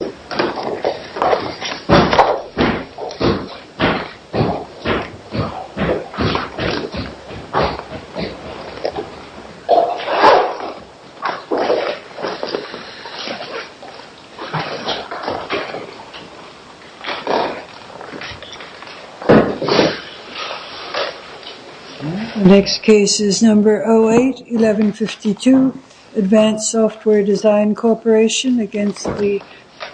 08-1152 Advanced Software Design Corporation against the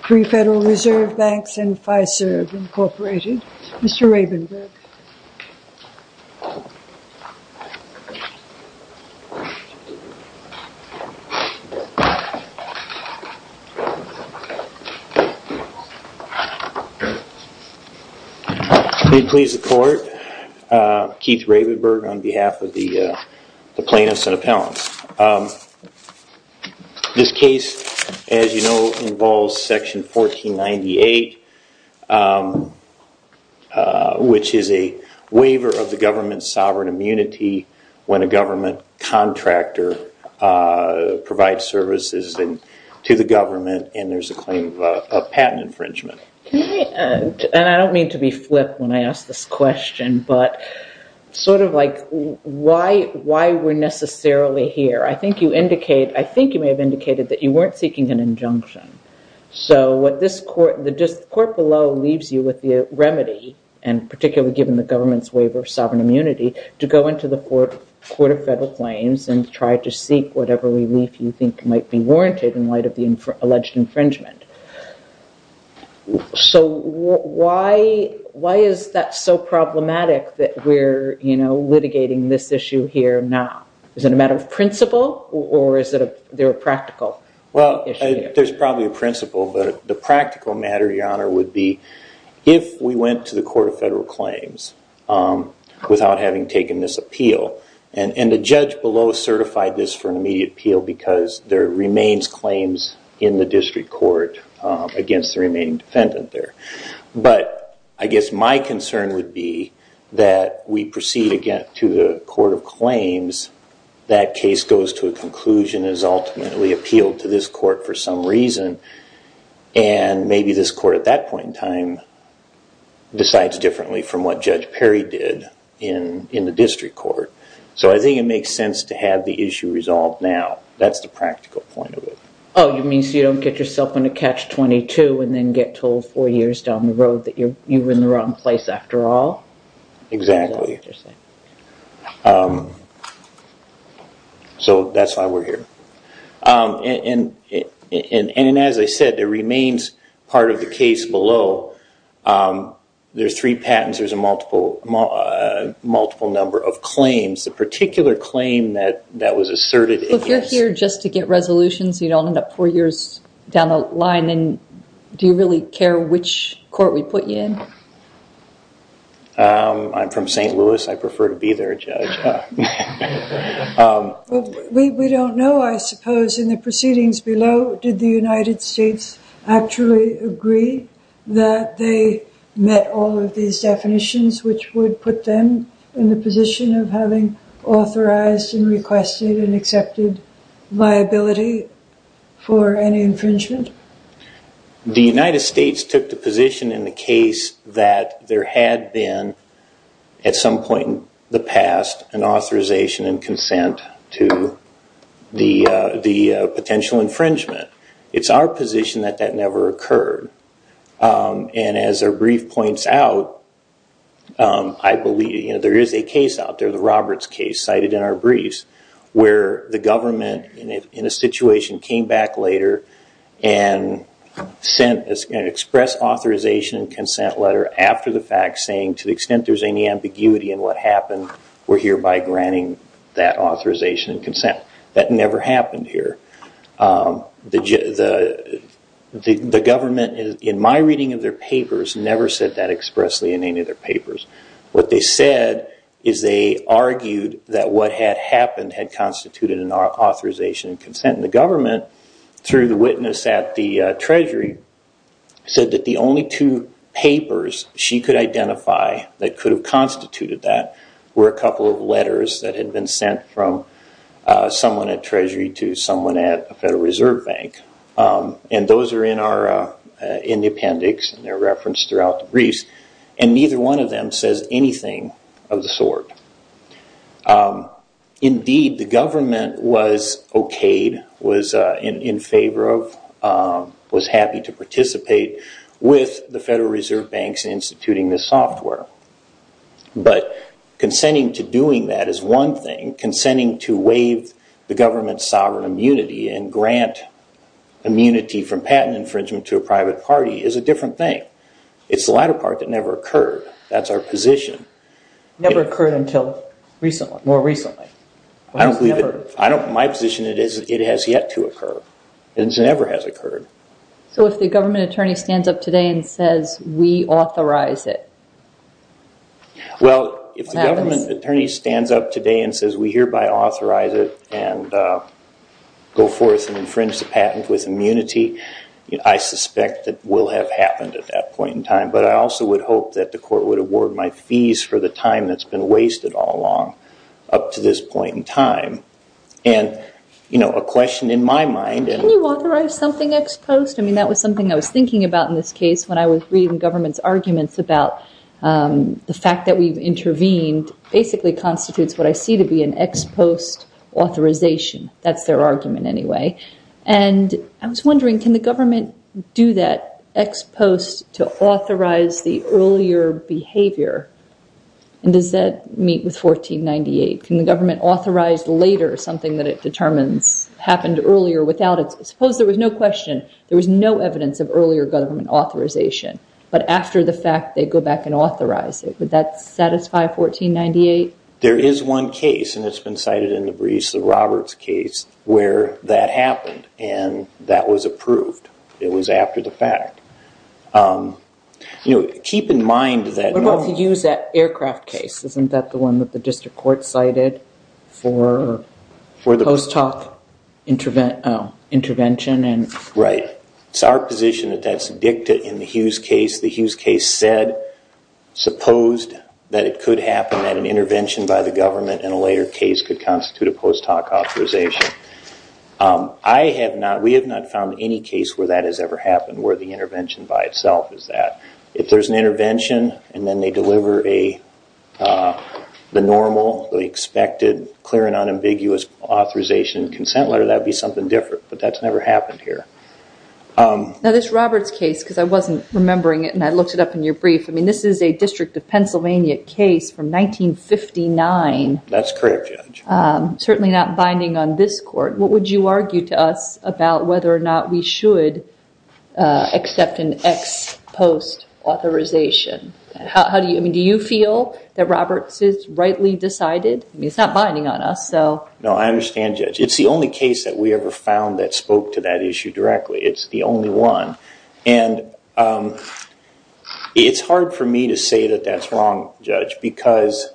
Pre-Federal Reserve Banks and Fiserv Incorporated. Mr. Rabenberg. May it please the court, Keith Rabenberg on behalf of the plaintiffs and appellants. This case, as you know, involves section 1498, which is a waiver of the government's sovereign immunity when a government contractor provides services to the government and there's a claim of patent infringement. And I don't mean to be flip when I ask this question, but sort of like why we're necessarily here. I think you indicate, I think you may have indicated that you weren't seeking an injunction. So what this court, the court below leaves you with the remedy and particularly given the government's waiver of sovereign immunity to go into the court of federal claims and try to seek whatever relief you think might be warranted in light of the alleged infringement. So why is that so problematic that we're, you know, litigating this issue here now? Is it a matter of principle or is it a practical issue? Well, there's probably a principle, but the practical matter, Your Honor, would be if we went to the court of federal claims without having taken this appeal and the judge below certified this for an immediate appeal because there remains claims in the district court against the remaining defendant there. But I guess my concern would be that we proceed again to the court of claims, that case goes to a conclusion and is ultimately appealed to this court for some reason and maybe this court at that point in time decides differently from what Judge Perry did in the district court. So I think it makes sense to have the issue resolved now. That's the practical point of it. Oh, you mean so you don't get yourself in a catch-22 and then get told four years down the road that you were in the wrong place after all? Exactly. So that's why we're here. And as I said, there remains part of the case below. There's three patents, there's a multiple number of claims. The particular claim that was asserted... If you're here just to get resolutions, you don't end up four years down the line, then do you really care which court we put you in? I'm from St. Louis. I prefer to be there, Judge. We don't know, I suppose, in the proceedings below, did the United States actually agree that they met all of these definitions which would put them in the position of having authorized and requested and accepted liability for any infringement? The United States took the position in the case that there had been, at some point in the past, an authorization and consent to the potential infringement. It's our position that that never occurred. And as our brief points out, I believe there is a case out there, the Roberts case cited in our briefs, where the government, in a situation, came back later and sent an express authorization and consent letter after the fact saying, to the extent there's any ambiguity in what happened, we're hereby granting that authorization and consent. That never happened here. The government, in my reading of their papers, never said that expressly in any of their papers. What they said is they argued that what had happened had constituted an authorization and consent. And the government, through the witness at the Treasury, said that the only two papers she could identify that could have constituted that were a couple of letters that had been sent from someone at Treasury to someone at a Federal Reserve Bank. And those are in the appendix and they're referenced throughout the briefs. And neither one of them says anything of the sort. Indeed, the government was okayed, was in favor of, was happy to participate with the Federal Reserve Banks in instituting this software. But consenting to doing that is one thing. Consenting to waive the government's sovereign immunity and grant immunity from patent infringement to a private party is a different thing. It's the latter part that never occurred. That's our position. Never occurred until more recently. I don't believe it. My position is it has yet to occur. It never has occurred. So if the government attorney stands up today and says, we authorize it, what happens? Well, if the government attorney stands up today and says we hereby authorize it and go forth and infringe the patent with immunity, I suspect that will have happened at that point in time. But I also would hope that the court would award my fees for the time that's been wasted all along up to this point in time. And a question in my mind... Can you authorize something ex post? I mean, that was something I was thinking about in this case when I was reading government's arguments about the fact that we've intervened basically constitutes what I see to be an ex post authorization. That's their argument anyway. And I was wondering, can the government do that ex post to authorize the earlier behavior? And does that meet with 1498? Can the government authorize later something that it determines happened earlier without it? Suppose there was no question. There was no evidence of earlier government authorization. But after the fact, they go back and authorize it. Would that satisfy 1498? There is one case, and it's been cited in the Brees and Roberts case, where that happened and that was approved. It was after the fact. Keep in mind that... What about the Hughes Aircraft case? Isn't that the one that the district court cited for post hoc intervention and... Right. It's our position that that's addicted in the Hughes case. The Hughes case said, supposed that it could happen at an intervention by the government and a later case could constitute a post hoc authorization. We have not found any case where that has ever happened, where the intervention by itself is that. If there's an intervention and then they deliver the normal, the expected, clear and unambiguous authorization consent letter, that would be something different. But that's never happened here. Now this Roberts case, because I wasn't remembering it and I looked it up in your brief, this is a District of Pennsylvania case from 1959. That's correct, Judge. Certainly not binding on this court. What would you argue to us about whether or not we should accept an ex post authorization? Do you feel that Roberts is rightly decided? It's not binding on us, so... No, I understand, Judge. It's the only case that we ever found that spoke to that issue directly. It's the only one. It's hard for me to say that that's wrong, Judge, because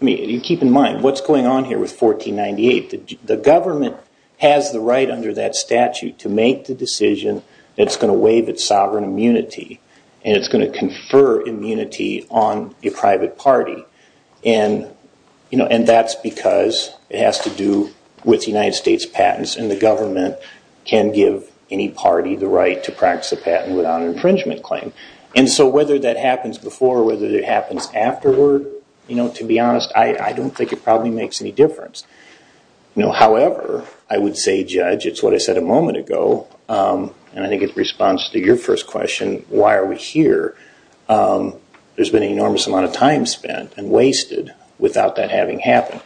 you keep in mind, what's going on here with 1498? The government has the right under that statute to make the decision that's going to waive its sovereign immunity and it's going to confer immunity on a private party. That's because it has to do with United States patents and the government can give any party the right to practice a patent without an infringement claim. Whether that happens before or whether it happens afterward, to be honest, I don't think it probably makes any difference. However, I would say, Judge, it's what I said a moment ago, and I think it responds to your first question, why are we here? There's been an enormous amount of time spent and wasted without that having happened.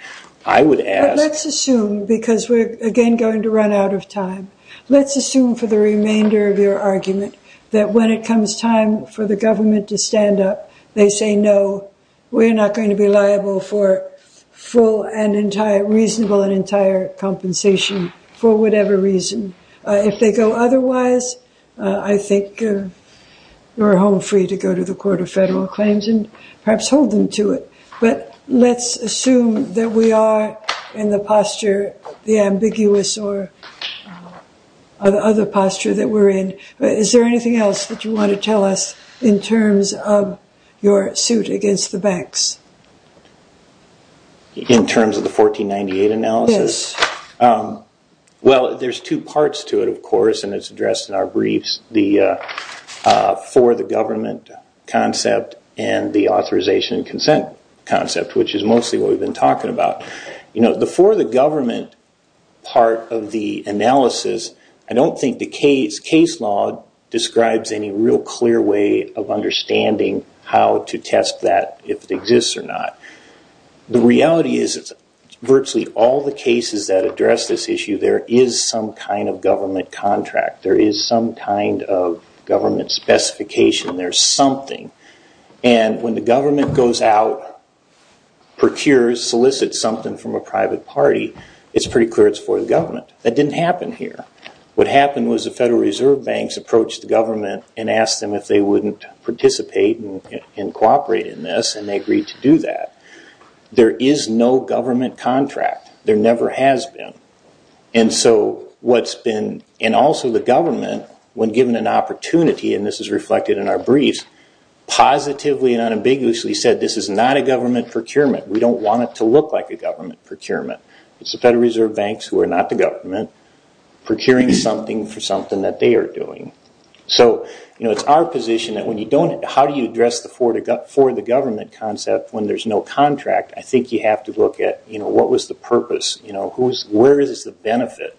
I would ask... But let's assume, because we're again going to run out of time, let's assume for the remainder of your argument that when it comes time for the government to stand up, they say, no, we're not going to be liable for full and if they go otherwise, I think you're home free to go to the Court of Federal Claims and perhaps hold them to it. But let's assume that we are in the posture, the ambiguous or other posture that we're in. Is there anything else that you want to tell us in terms of your suit against the banks? In terms of the 1498 analysis? Well, there's two parts to it, of course, and it's addressed in our briefs, the for the government concept and the authorization and consent concept, which is mostly what we've been talking about. The for the government part of the analysis, I don't think the case law describes any real clear way of understanding how to test that if it exists or not. The cases that address this issue, there is some kind of government contract, there is some kind of government specification, there's something. And when the government goes out, procures, solicits something from a private party, it's pretty clear it's for the government. That didn't happen here. What happened was the Federal Reserve Banks approached the government and asked them if they wouldn't participate and cooperate in this and they agreed to do that. There is no government contract. There never has been. And also the government, when given an opportunity, and this is reflected in our briefs, positively and unambiguously said this is not a government procurement. We don't want it to look like a government procurement. It's the Federal Reserve Banks who are not the government procuring something for something that they are doing. So it's our position that how do you address the for the government concept when there's no contract? I think you have to look at what was the purpose? Where is the benefit?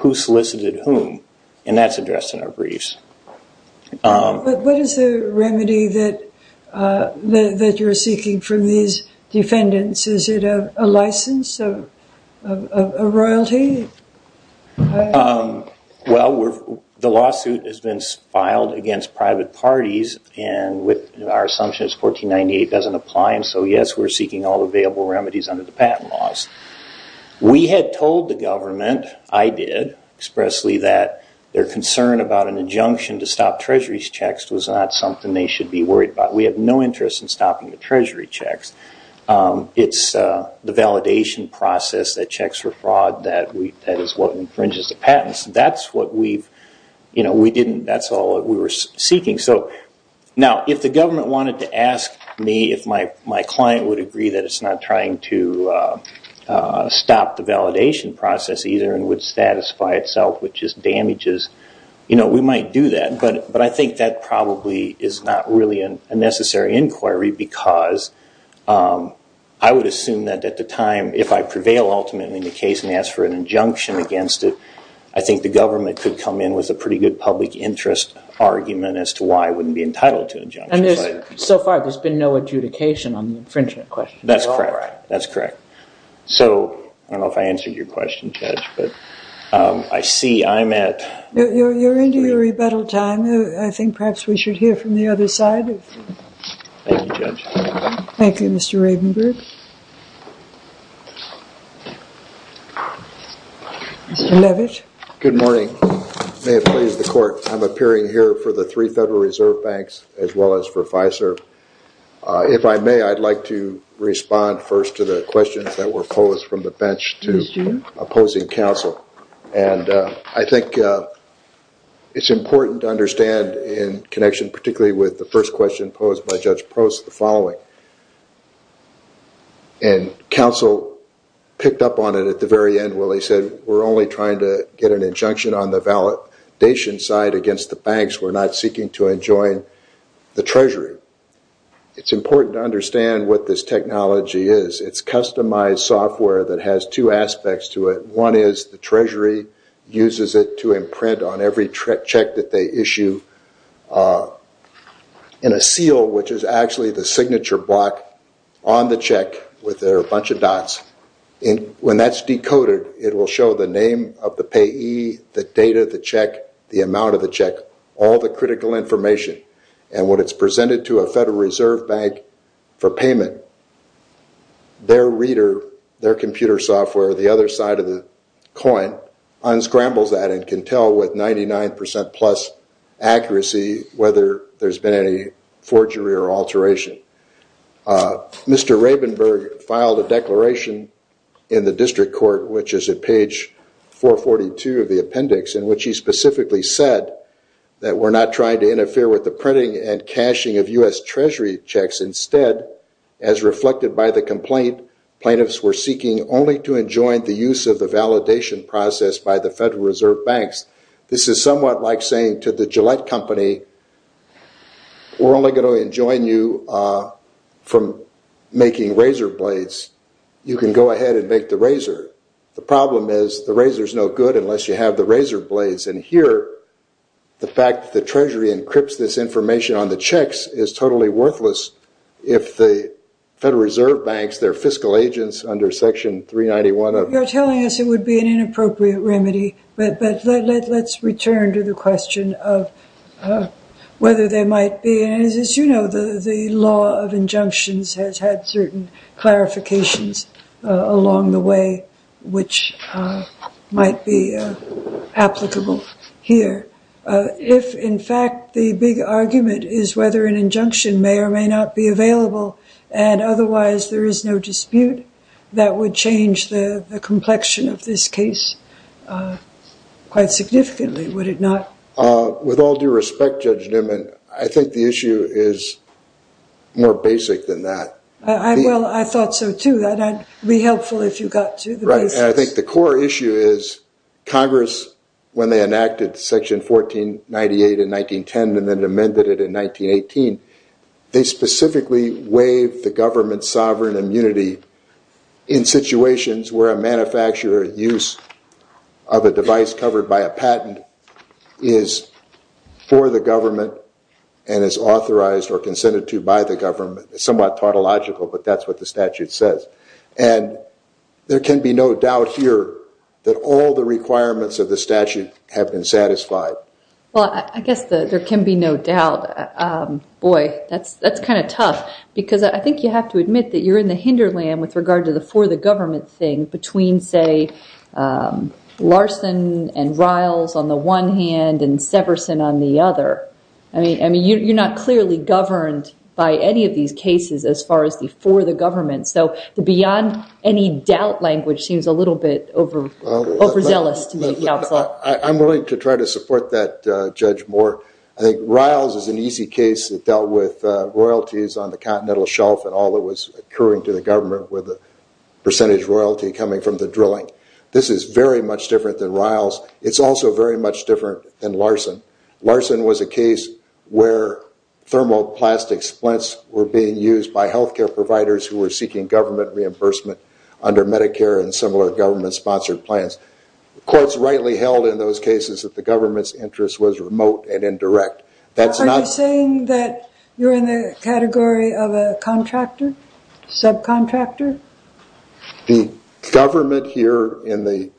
Who solicited whom? And that's addressed in our briefs. What is the remedy that you are seeking from these defendants? Is it a license? A royalty? Well, the lawsuit has been filed against private parties and our assumption is 1498 doesn't apply. So yes, we are seeking all available remedies under the patent laws. We had told the government, I did, expressly, that their concern about an injunction to stop Treasury's checks was not something they should be worried about. We have no interest in stopping the Treasury checks. It's the validation process that checks for fraud that is what infringes the patents. That's what we didn't, that's all we were seeking. So now, if the government wanted to ask me if my client would agree that it's not trying to stop the validation process either and would satisfy itself with just damages, you know, we might do that. But I think that probably is not really a necessary inquiry because I would assume that at the time, if I prevail ultimately in the case and ask for an injunction against it, I think the government could come in with a pretty good public interest argument as to why I wouldn't be entitled to an injunction. So far, there's been no adjudication on the infringement question. That's correct. That's correct. So I don't know if I answered your question, Judge, but I see I'm at... You're into your rebuttal time. I think perhaps we should hear from the other side. Thank you, Judge. Thank you, Mr. Ravenberg. Mr. Levitt. Good morning. May it please the court, I'm appearing here for the three Federal Reserve Banks as well as for FISERV. If I may, I'd like to respond first to the questions that were posed from the bench to opposing counsel. And I think it's important to understand in connection particularly with the first question posed by Judge Post, the following. And counsel picked up on it at the very end where they said, we're only trying to get an injunction on the validation side against the banks. We're not seeking to enjoin the treasury. It's important to understand what this technology is. It's customized software that has two aspects to it. One is the treasury uses it to imprint on every check that they issue in a seal, which is actually the signature block on the check with their bunch of dots. When that's decoded, it will show the name of the payee, the date of the check, the amount of the check, all the critical information. And when it's presented to a Federal Reserve Bank for payment, their reader, their computer software, the other side of the coin, unscrambles that and can tell with 99% plus accuracy whether there's been any forgery or alteration. Mr. Rabenberg filed a declaration in the district court, which is at page 442 of the appendix, in which he specifically said that we're not trying to interfere with the printing and caching of U.S. Treasury checks. Instead, as reflected by the complaint, plaintiffs were seeking only to enjoin the use of the validation process by the Federal Reserve Banks. This is somewhat like saying to the Gillette Company, we're only going to enjoin you from making razor blades. You can go ahead and make the razor. The problem is the razor is no good unless you have the razor blades. And here, the fact that the treasury encrypts this information on the checks is totally worthless if the Federal Reserve Banks, their fiscal agents under section 391 of the- You're telling us it would be an inappropriate remedy. But let's return to the question of whether there might be, and as you know, the law of injunctions has had certain clarifications along the way, which might be applicable here. If, in fact, the big argument is whether an injunction may or may not be available, and otherwise there is no dispute, that would change the complexion of this case quite significantly, would it not? With all due respect, Judge Newman, I think the issue is more basic than that. Well, I thought so, too. That'd be helpful if you got to the basics. I think the core issue is Congress, when they enacted section 1498 in 1910 and then amended it in 1918, they specifically waived the government's sovereign immunity in situations where a manufacturer use of a device covered by a patent is for the government and is authorized or consented to by the government. It's somewhat tautological, but that's what the statute says. And there can be no doubt here that all the requirements of the statute have been satisfied. Well, I guess there can be no doubt. Boy, that's kind of tough, because I think you have to admit that you're in the hinderland with regard to the for the government thing between, say, Larson and Riles on the one hand and Severson on the other. I mean, you're not clearly governed by any of these cases as far as the for the government. So the beyond any doubt language seems a little bit overzealous to me, Counselor. I'm willing to try to support that, Judge Moore. I think Riles is an easy case that dealt with royalties on the continental shelf and all that was occurring to the government with a percentage royalty coming from the drilling. This is very much different than Riles. It's also very much different than Larson. Larson was a case where thermoplastic splints were being used by health care providers who were seeking government reimbursement under Medicare and similar government-sponsored plans. The courts rightly held in those cases that the government's interest was remote and indirect. Are you saying that you're in the category of a contractor, subcontractor? The government here in the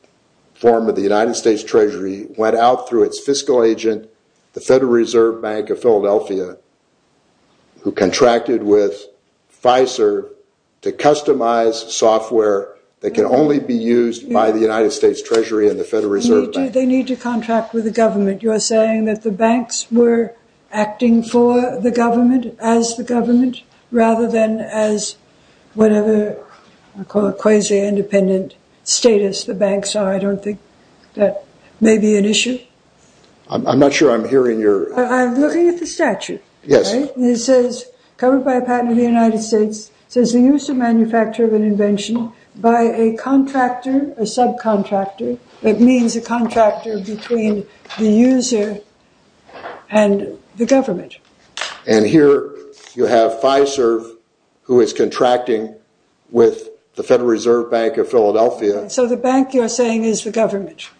form of the United States Treasury went out through its fiscal agent, the Federal Reserve Bank of Philadelphia, who contracted with Pfizer to customize soft ware that can only be used by the United States Treasury and the Federal Reserve Bank. They need to contract with the government. You're saying that the banks were acting for the government as the government rather than as whatever, I call it quasi-independent status the banks are. I don't think that may be an issue. I'm not sure I'm hearing your... I'm looking at the statute. It says, covered by a patent of the United States, says the use and manufacture of an invention by a contractor, a subcontractor. That means a contractor between the user and the government. And here you have Pfizer, who is contracting with the Federal Reserve Bank of Philadelphia. So the bank you're saying is the government.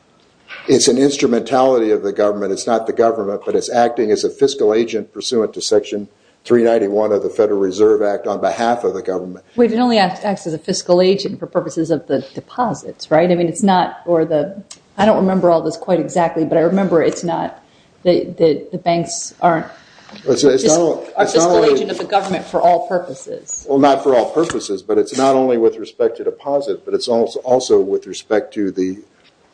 It's an instrumentality of the government. It's not the government, but it's acting as a fiscal agent pursuant to Section 391 of the Federal Reserve Act on behalf of the government. We can only act as a fiscal agent for purposes of the deposits, right? I mean, it's not for the... I don't remember all this quite exactly, but I remember it's not the banks aren't... A fiscal agent of the government for all purposes. Well, not for all purposes, but it's not only with respect to deposit, but it's also with respect to the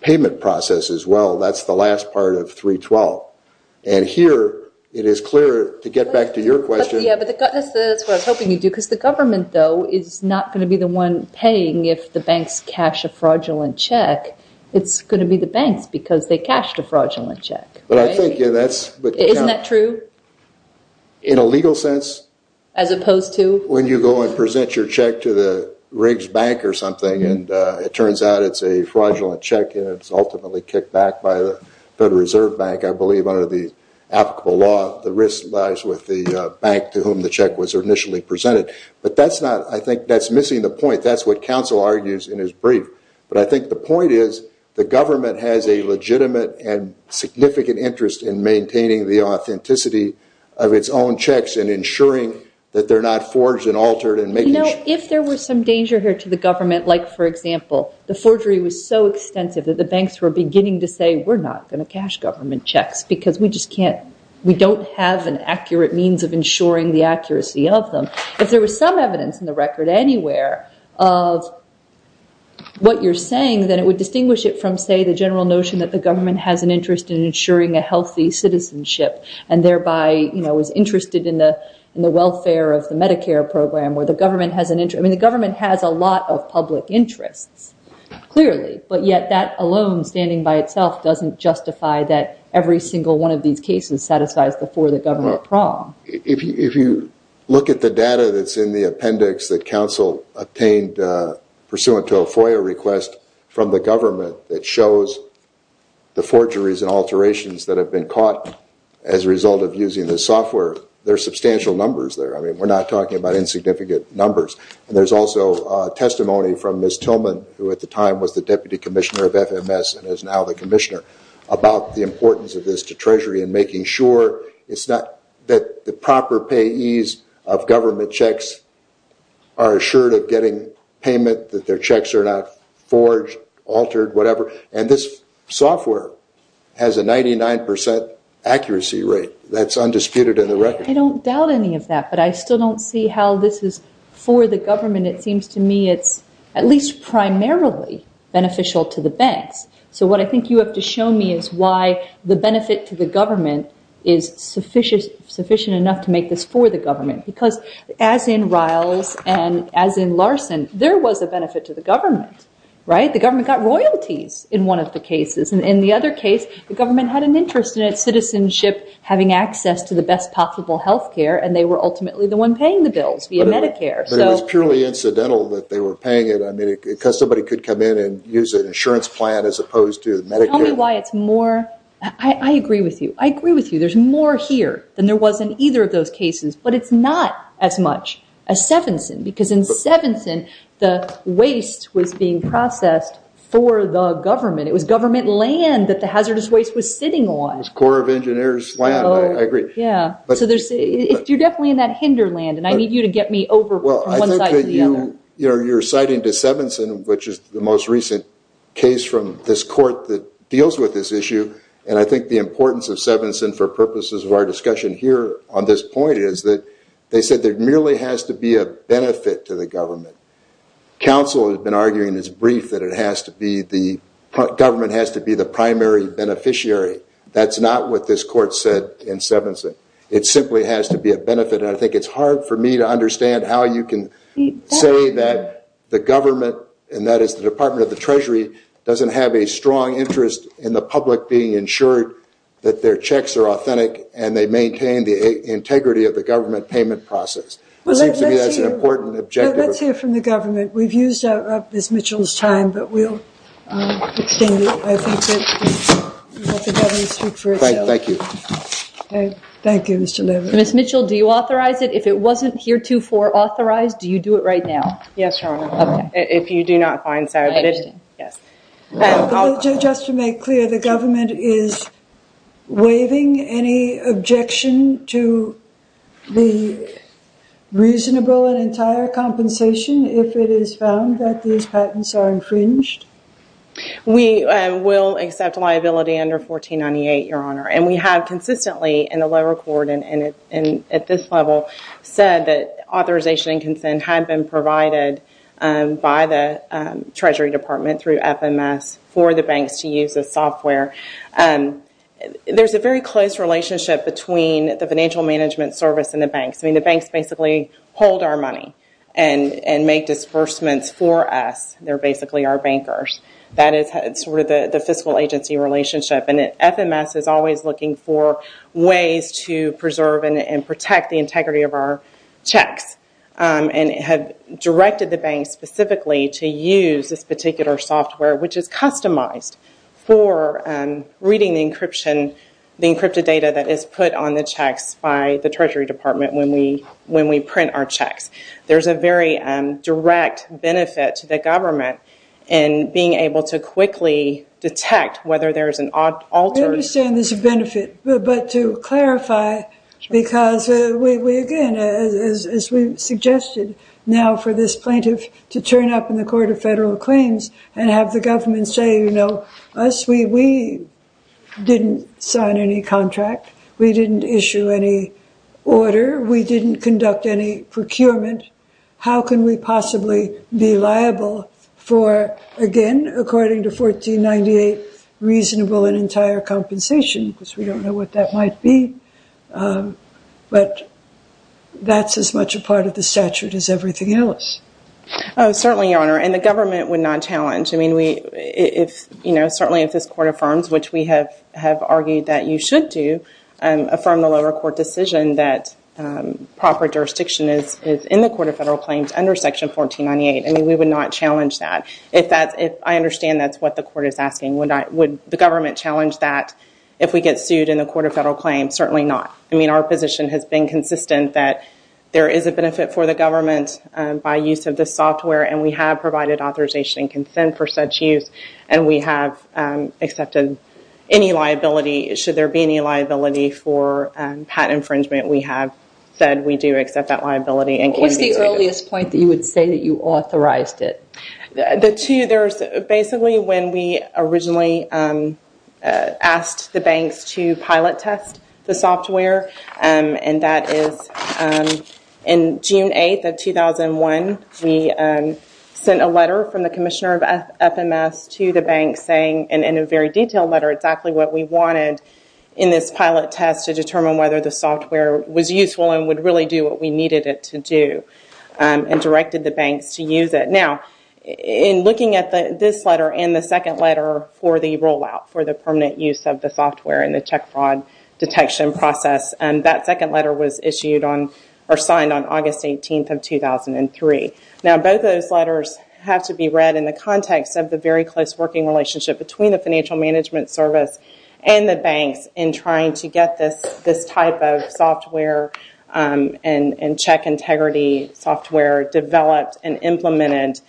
payment process as well. That's the last part of 312. And here it is clear, to get back to your question... Yeah, but that's what I was hoping you'd do, because the government, though, is not going to be the one paying if the banks cash a fraudulent check. It's going to be the banks because they cashed a fraudulent check. But I think that's... Isn't that true? In a legal sense? As opposed to? When you go and present your check to the Riggs Bank or something, and it turns out it's a Federal Reserve Bank, I believe under the applicable law, the risk lies with the bank to whom the check was initially presented. But that's not... I think that's missing the point. That's what counsel argues in his brief. But I think the point is, the government has a legitimate and significant interest in maintaining the authenticity of its own checks and ensuring that they're not forged and altered and making sure... You know, if there was some danger here to the government, like, for example, the forgery was so extensive that the banks were beginning to say, we're not going to cash government checks because we just can't... We don't have an accurate means of ensuring the accuracy of them. If there was some evidence in the record anywhere of what you're saying, then it would distinguish it from, say, the general notion that the government has an interest in ensuring a healthy citizenship and thereby is interested in the welfare of the Medicare program, where the government has an interest... I mean, the government has a lot of public interests. Clearly, but yet that alone, standing by itself, doesn't justify that every single one of these cases satisfies the For the Government prong. If you look at the data that's in the appendix that counsel obtained pursuant to a FOIA request from the government that shows the forgeries and alterations that have been caught as a result of using this software, there are substantial numbers there. I mean, we're not talking about insignificant numbers. And there's also testimony from Ms. Tillman, who at the time was the deputy commissioner of FMS and is now the commissioner, about the importance of this to Treasury in making sure that the proper payees of government checks are assured of getting payment, that their checks are not forged, altered, whatever. And this software has a 99% accuracy rate. That's undisputed in the record. I don't doubt any of that, but I still don't see how this is for the government. It seems to me it's at least primarily beneficial to the banks. So what I think you have to show me is why the benefit to the government is sufficient enough to make this for the government. Because as in Riles and as in Larson, there was a benefit to the government, right? The government got royalties in one of the cases. And in the other case, the government had an interest in its citizenship, having access to the best possible health care. And they were ultimately the one paying the bills via Medicare. But it was purely incidental that they were paying it. I mean, because somebody could come in and use an insurance plan as opposed to Medicare. Tell me why it's more... I agree with you. I agree with you. There's more here than there was in either of those cases. But it's not as much as Sevenson. Because in Sevenson, the waste was being processed for the government. It was government land that the hazardous waste was sitting on. It was Corps of Engineers land, I agree. Yeah. You're definitely in that hinder land. And I need you to get me over from one side to the other. You're citing to Sevenson, which is the most recent case from this court that deals with this issue. And I think the importance of Sevenson for purposes of our discussion here on this point is that they said there merely has to be a benefit to the government. Council has been arguing this brief that it has to be the... Government has to be the primary beneficiary. That's not what this court said in Sevenson. It simply has to be a benefit. And I think it's hard for me to understand how you can say that the government, and that is the Department of the Treasury, doesn't have a strong interest in the public being ensured that their checks are authentic and they maintain the integrity of the government payment process. It seems to me that's an important objective. Well, let's hear from the government. We've used up Ms. Mitchell's time, but we'll extend it. I think that we'll let the government speak first. Thank you. Okay. Thank you, Mr. Levy. Ms. Mitchell, do you authorize it? If it wasn't heretofore authorized, do you do it right now? Yes, Your Honor. Okay. If you do not find so. I understand. Yes. Just to make clear, the government is waiving any objection to the reasonable and entire compensation if it is found that these patents are infringed? We will accept liability under 1498, Your Honor. We have consistently in the lower court and at this level said that authorization and consent had been provided by the Treasury Department through FMS for the banks to use the software. There's a very close relationship between the financial management service and the banks. The banks basically hold our money and make disbursements for us. They're basically our bankers. That is the fiscal agency relationship. FMS is always looking for ways to preserve and protect the integrity of our checks. It had directed the banks specifically to use this particular software, which is customized for reading the encrypted data that is put on the checks by the Treasury Department when we print our checks. There's a very direct benefit to the government in being able to quickly detect whether there's an altered- I understand there's a benefit, but to clarify, because we, again, as we suggested now for this plaintiff to turn up in the Court of Federal Claims and have the government say, you know, us, we didn't sign any contract. We didn't issue any order. We didn't conduct any procurement. How can we possibly be liable for, again, according to 1498, reasonable and entire compensation? Because we don't know what that might be. But that's as much a part of the statute as everything else. Oh, certainly, Your Honor. And the government would not challenge. I mean, certainly if this Court affirms, which we have argued that you should do, affirm the lower court decision that proper jurisdiction is in the Court of Federal Claims under Section 1498. I mean, we would not challenge that. If that's- I understand that's what the court is asking. Would the government challenge that if we get sued in the Court of Federal Claims? Certainly not. I mean, our position has been consistent that there is a benefit for the government by use of this software, and we have provided authorization and consent for such use, and we have accepted any liability. Should there be any liability for patent infringement, we have said we do accept that liability and can be- What's the earliest point that you would say that you authorized it? The two, there's basically when we originally asked the banks to pilot test the software, and that is in June 8th of 2001, we sent a letter from the Commissioner of FMS to the bank saying, in a very detailed letter, exactly what we wanted in this pilot test to determine whether the software was useful and would really do what we needed it to do, and directed the banks to use it. Now, in looking at this letter and the second letter for the rollout for the permanent use of the software in the check fraud detection process, that second letter was issued on- or signed on August 18th of 2003. Now, both those letters have to be read in the context of the very close working relationship between the Financial Management Service and the banks in trying to get this type of software and check integrity software developed and implemented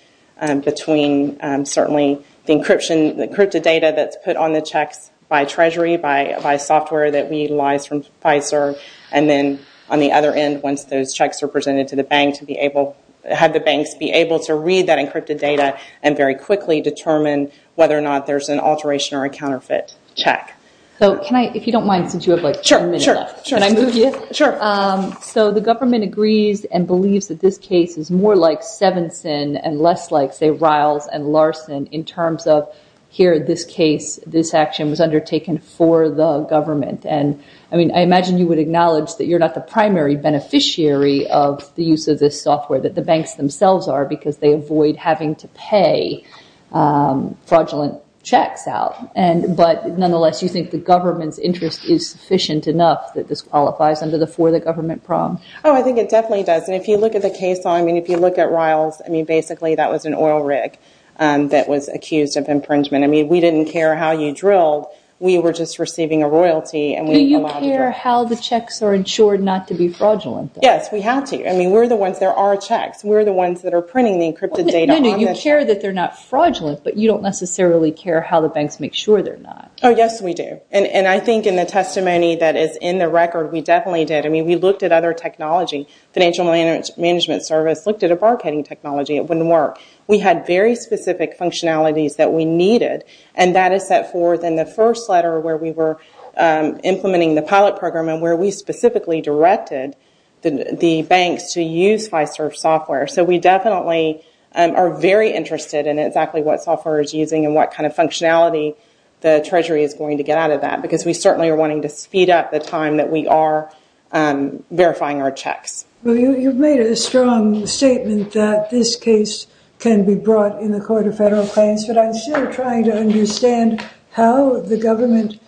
between, certainly, the encrypted data that's put on the checks by Treasury, by software that we utilize from Pfizer, and then on the other end, once those checks are presented to the bank to be able- have the banks be able to read that encrypted data and very quickly determine whether or not there's an alteration or a counterfeit check. So can I- if you don't mind, since you have, like, a minute left, can I move you? Sure, sure. So the government agrees and believes that this case is more like Sevenson and less like, say, Riles and Larson in terms of, here, this case, this action was undertaken for the government. And, I mean, I imagine you would acknowledge that you're not the primary beneficiary of the use of this software, that the banks themselves are, because they avoid having to pay fraudulent checks out. And- but, nonetheless, you think the government's interest is sufficient enough that this qualifies under the for-the-government prong? Oh, I think it definitely does. And if you look at the case, I mean, if you look at Riles, I mean, basically, that was an oil rig that was accused of impringement. I mean, we didn't care how you drilled. We were just receiving a royalty and we- Do you care how the checks are insured not to be fraudulent? Yes, we have to. I mean, we're the ones- there are checks. We're the ones that are printing the encrypted data on the- You care that they're not fraudulent, but you don't necessarily care how the banks make sure they're not. Oh, yes, we do. And I think in the testimony that is in the record, we definitely did. I mean, we looked at other technology. Financial management service looked at a bar-cutting technology. It wouldn't work. We had very specific functionalities that we needed, and that is set forth in the first letter where we were implementing the pilot program and where we specifically directed the banks to use Fiserv software. So we definitely are very interested in exactly what software is using and what kind of functionality the Treasury is going to get out of that, because we certainly are wanting to speed up the time that we are verifying our checks. Well, you've made a strong statement that this case can be brought in the Court of Federal Claims, but I'm still trying to understand how the government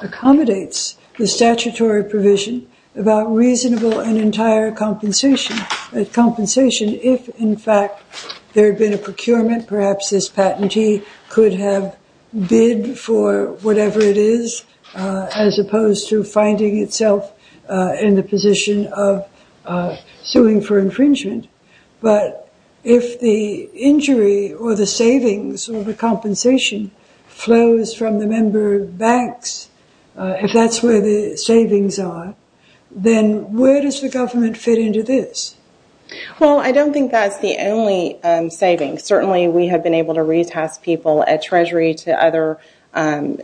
accommodates the statutory provision about reasonable and entire compensation. That compensation, if in fact there had been a procurement, perhaps this patentee could have bid for whatever it is, as opposed to finding itself in the position of suing for infringement. But if the injury or the savings or the compensation flows from the member banks, if that's where the savings are, then where does the government fit into this? Well, I don't think that's the only saving. Certainly, we have been able to re-task people at Treasury to other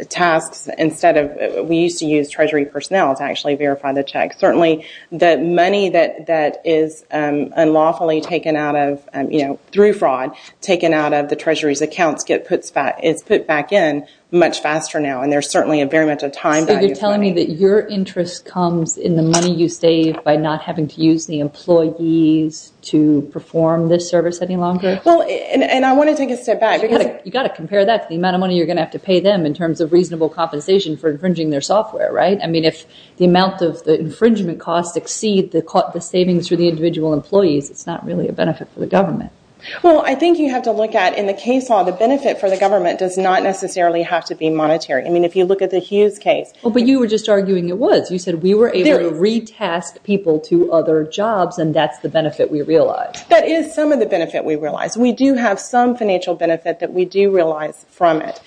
tasks, instead of, we used to use Treasury personnel to actually verify the checks. Certainly, the money that is unlawfully taken out of, you know, through fraud, taken out of the Treasury's accounts gets put back in much faster now, and there's certainly a very much a time value. So you're telling me that your interest comes in the money you save by not having to use the employees to perform this service any longer? Well, and I want to take a step back. You've got to compare that to the amount of money you're going to have to pay them in terms of reasonable compensation for infringing their software, right? I mean, if the amount of the infringement costs exceed the savings for the individual employees, it's not really a benefit for the government. Well, I think you have to look at, in the case law, the benefit for the government does not necessarily have to be monetary. I mean, if you look at the Hughes case... Oh, but you were just arguing it was. You said we were able to retask people to other jobs, and that's the benefit we realize. That is some of the benefit we realize. We do have some financial benefit that we do realize from it.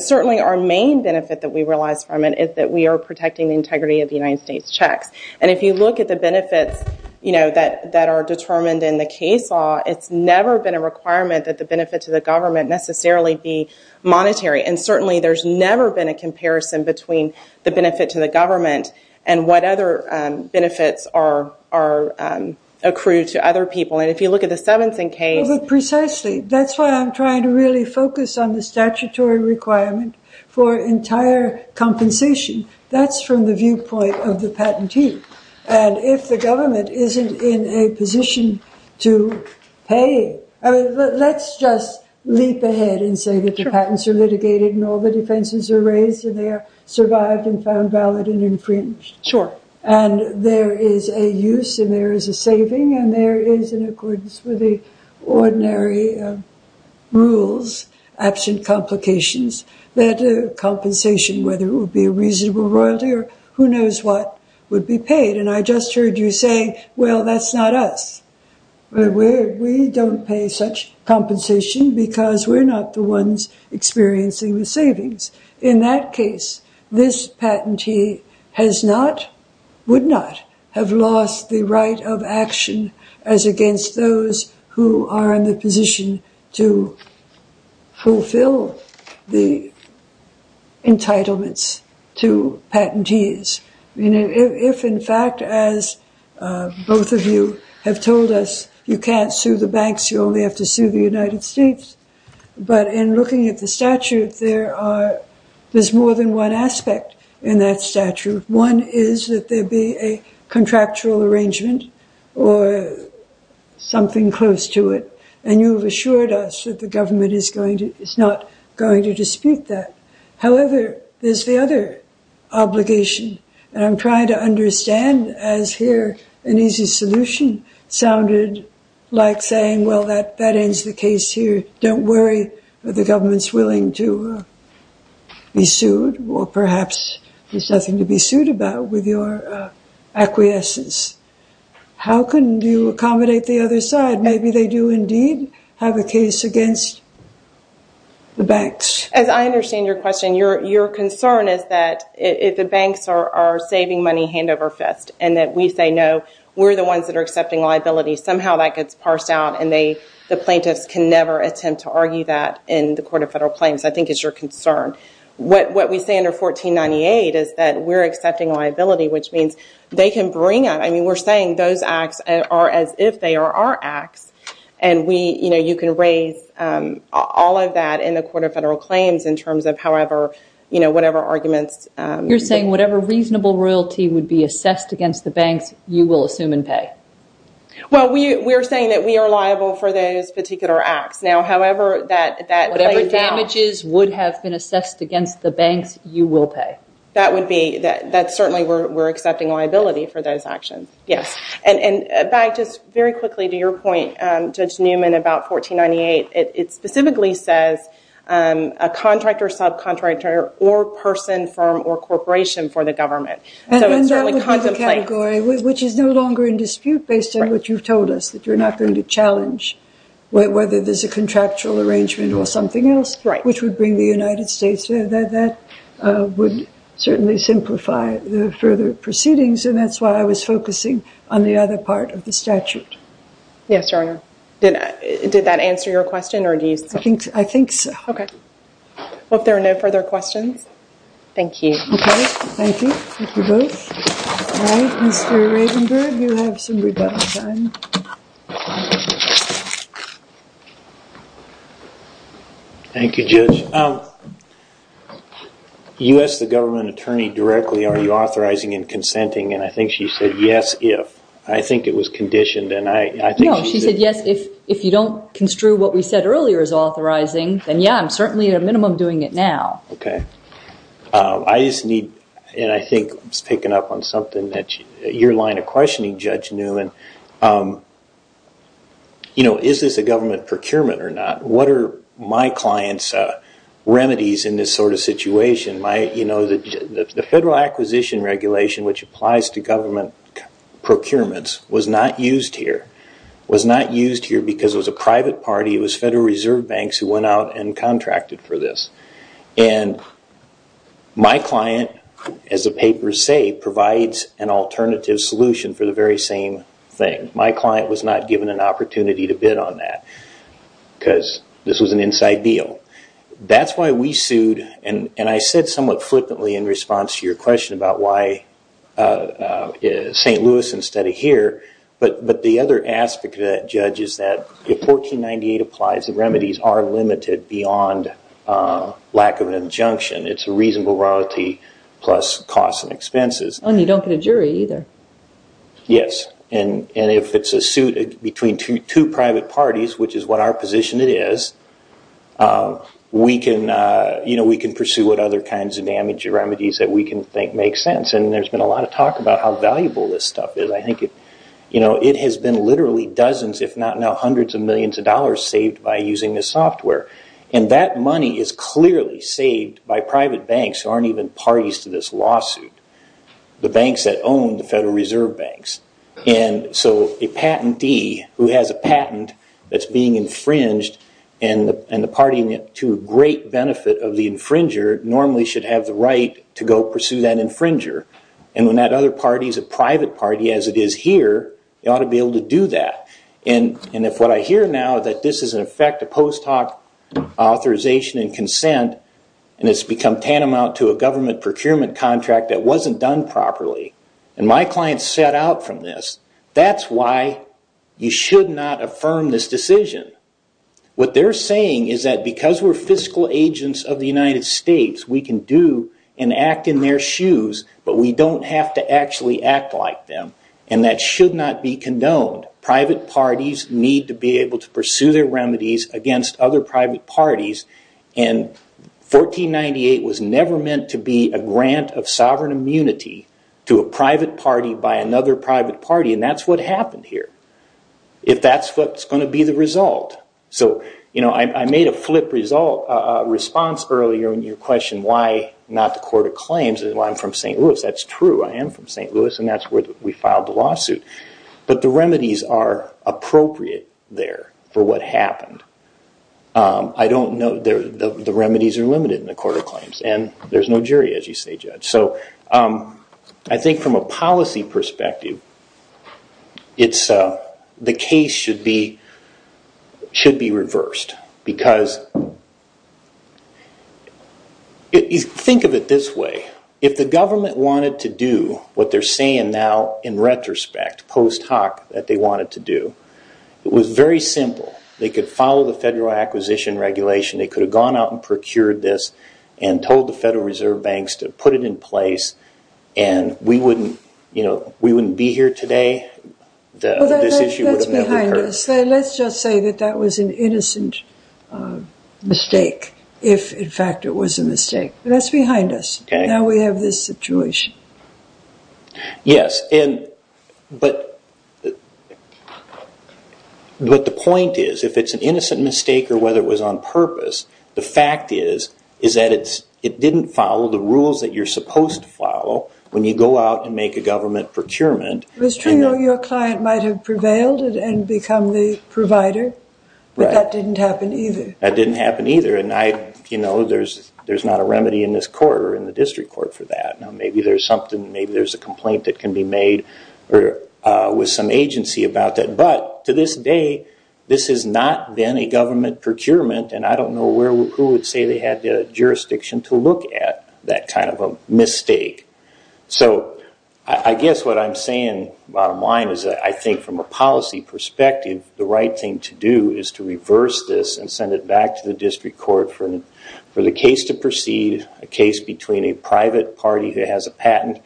Certainly, our main benefit that we realize from it is that we are protecting the integrity of the United States checks. And if you look at the benefits, you know, that are determined in the case law, it's never been a requirement that the benefit to the government necessarily be monetary. And certainly, there's never been a comparison between the benefit to the government and what other benefits are accrued to other people. And if you look at the Seventh and Case... But precisely, that's why I'm trying to really focus on the statutory requirement for entire compensation. That's from the viewpoint of the patentee. And if the government isn't in a position to pay, let's just leap ahead and say that the patents are litigated and all the defenses are raised, and they are survived and found valid and infringed. Sure. And there is a use, and there is a saving, and there is, in accordance with the ordinary rules, absent complications, that compensation, whether it would be a reasonable royalty or who knows what, would be paid. And I just heard you say, well, that's not us. But we don't pay such compensation because we're not the ones experiencing the savings. In that case, this patentee has not, would not, have lost the right of action as against those who are in the position to fulfill the entitlements to patentees. If, in fact, as both of you have told us, you can't sue the banks, you only have to sue the United States. But in looking at the statute, there's more than one aspect in that statute. One is that there be a contractual arrangement or something close to it. And you have assured us that the government is not going to dispute that. However, there's the other obligation. And I'm trying to understand, as here an easy solution sounded like saying, well, that ends the case here. Don't worry, the government's willing to be sued. Or perhaps there's nothing to be sued about with your acquiescence. How can you accommodate the other side? Maybe they do indeed have a case against the banks. As I understand your question, your concern is that if the banks are saving money hand over fist and that we say, no, we're the ones that are accepting liability, somehow that gets parsed out. And the plaintiffs can never attempt to argue that in the court of federal claims. I think it's your concern. What we say under 1498 is that we're accepting liability, which means they can bring it. I mean, we're saying those acts are as if they are our acts. And we, you know, you can raise all of that in the court of federal claims in terms of however, you know, whatever arguments. You're saying whatever reasonable royalty would be assessed against the banks, you will assume and pay. Well, we're saying that we are liable for those particular acts. Now, however, that damages would have been assessed against the banks, you will pay. That would be that certainly we're accepting liability for those actions. Yes. And back just very quickly to your point, Judge Newman, about 1498, it specifically says a contractor, subcontractor, or person, firm, or corporation for the government. And that would be the category, which is no longer in dispute, based on what you've told us, that you're not going to challenge whether there's a contractual arrangement or something else, which would bring the United States. That would certainly simplify the further proceedings. And that's why I was focusing on the other part of the statute. Yes, Your Honor. Did that answer your question or do you think? I think so. Okay. Well, if there are no further questions. Thank you. Okay. Thank you. Thank you both. All right, Mr. Ravenberg, you have some redundant time. Thank you, Judge. You asked the government attorney directly, are you authorizing and consenting? And I think she said, yes, if. I think it was conditioned. No, she said, yes, if you don't construe what we said earlier as authorizing, then yeah, I'm certainly at a minimum doing it now. Okay. I just need, and I think it's picking up on something that you're line of questioning, Judge Newman, is this a government procurement or not? What are my client's remedies in this sort of situation? You know, the Federal Acquisition Regulation, which applies to government procurements, was not used here. Was not used here because it was a private party. It was Federal Reserve Banks who went out and contracted for this. And my client, as the papers say, provides an alternative solution for the very same thing. My client was not given an opportunity to bid on that because this was an inside deal. That's why we sued. And I said somewhat flippantly in response to your question about why St. Louis instead of here. But the other aspect of that, Judge, is that if 1498 applies, the remedies are limited beyond lack of an injunction. It's a reasonable royalty plus costs and expenses. And you don't get a jury either. Yes. And if it's a suit between two private parties, which is what our position it is, we can pursue what other kinds of damage or remedies that we can think make sense. And there's been a lot of talk about how valuable this stuff is. I think it has been literally dozens, if not now hundreds of millions of dollars, saved by using this software. And that money is clearly saved by private banks who aren't even parties to this lawsuit. The banks that own the Federal Reserve Banks. And so a patentee who has a patent that's being infringed and the party to a great benefit of the infringer, normally should have the right to go pursue that infringer. And when that other party is a private party, as it is here, they ought to be able to do that. And if what I hear now that this is in effect a post hoc authorization and consent, and it's become tantamount to a government procurement contract that wasn't done properly, and my clients set out from this, that's why you should not affirm this decision. What they're saying is that because we're fiscal agents of the United States, we can do and act in their shoes, but we don't have to actually act like them. And that should not be condoned. Private parties need to be able to pursue their remedies against other private parties. And 1498 was never meant to be a grant of sovereign immunity to a private party by another private party. And that's what happened here. If that's what's going to be the result. So, you know, I made a flip response earlier in your question, why not the Court of Claims? I'm from St. Louis. That's true. I am from St. Louis. And that's where we filed the lawsuit. But the remedies are appropriate there for what happened. I don't know, the remedies are limited in the Court of Claims. And there's no jury, as you say, Judge. So I think from a policy perspective, the case should be reversed because think of it this way. If the government wanted to do what they're saying now in retrospect, post hoc, that they wanted to do, it was very simple. They could follow the Federal Acquisition Regulation. They could have gone out and procured this and told the Federal Reserve Banks to put it in place. And we wouldn't, you know, we wouldn't be here today. This issue would have never occurred. Let's just say that that was an innocent mistake. If, in fact, it was a mistake. That's behind us. Now we have this situation. Yes. But the point is, if it's an innocent mistake or whether it was on purpose, the fact is, is that it didn't follow the rules that you're supposed to follow when you go out and make a government procurement. It's true your client might have prevailed and become the provider. But that didn't happen either. That didn't happen either. And I, you know, there's not a remedy in this court or in the district court for that. Now maybe there's something, maybe there's a complaint that can be made with some agency about that. But to this day, this has not been a government procurement. And I don't know who would say they had the jurisdiction to look at that kind of a mistake. So I guess what I'm saying, bottom line, is I think from a policy perspective, the right thing to do is to reverse this and send it back to the district court for the case to proceed. A case between a private party who has a patent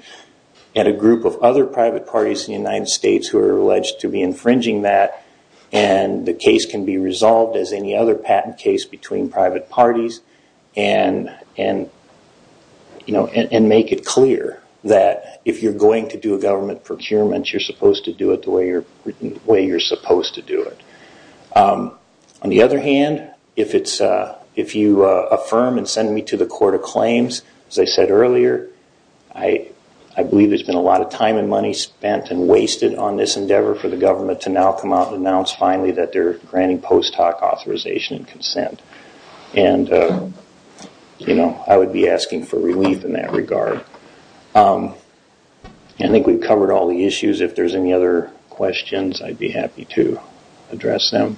and a group of other private parties in the United States who are alleged to be infringing that. And the case can be resolved as any other patent case between private parties and make it clear that if you're going to do a government procurement, you're supposed to do it the way you're supposed to do it. On the other hand, if it's, if you affirm and send me to the court of claims, as I said earlier, I believe there's been a lot of time and money spent and wasted on this endeavor for the government to now come out and announce finally that they're granting post hoc authorization and consent. And, you know, I would be asking for relief in that regard. I think we've covered all the issues. If there's any other questions, I'd be happy to address them.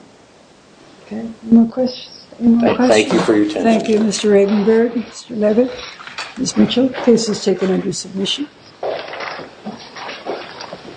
Okay. Any more questions? Thank you for your attention. Thank you, Mr. Regenberg, Mr. Levitt, Ms. Mitchell. Case is taken under submission. Thank you.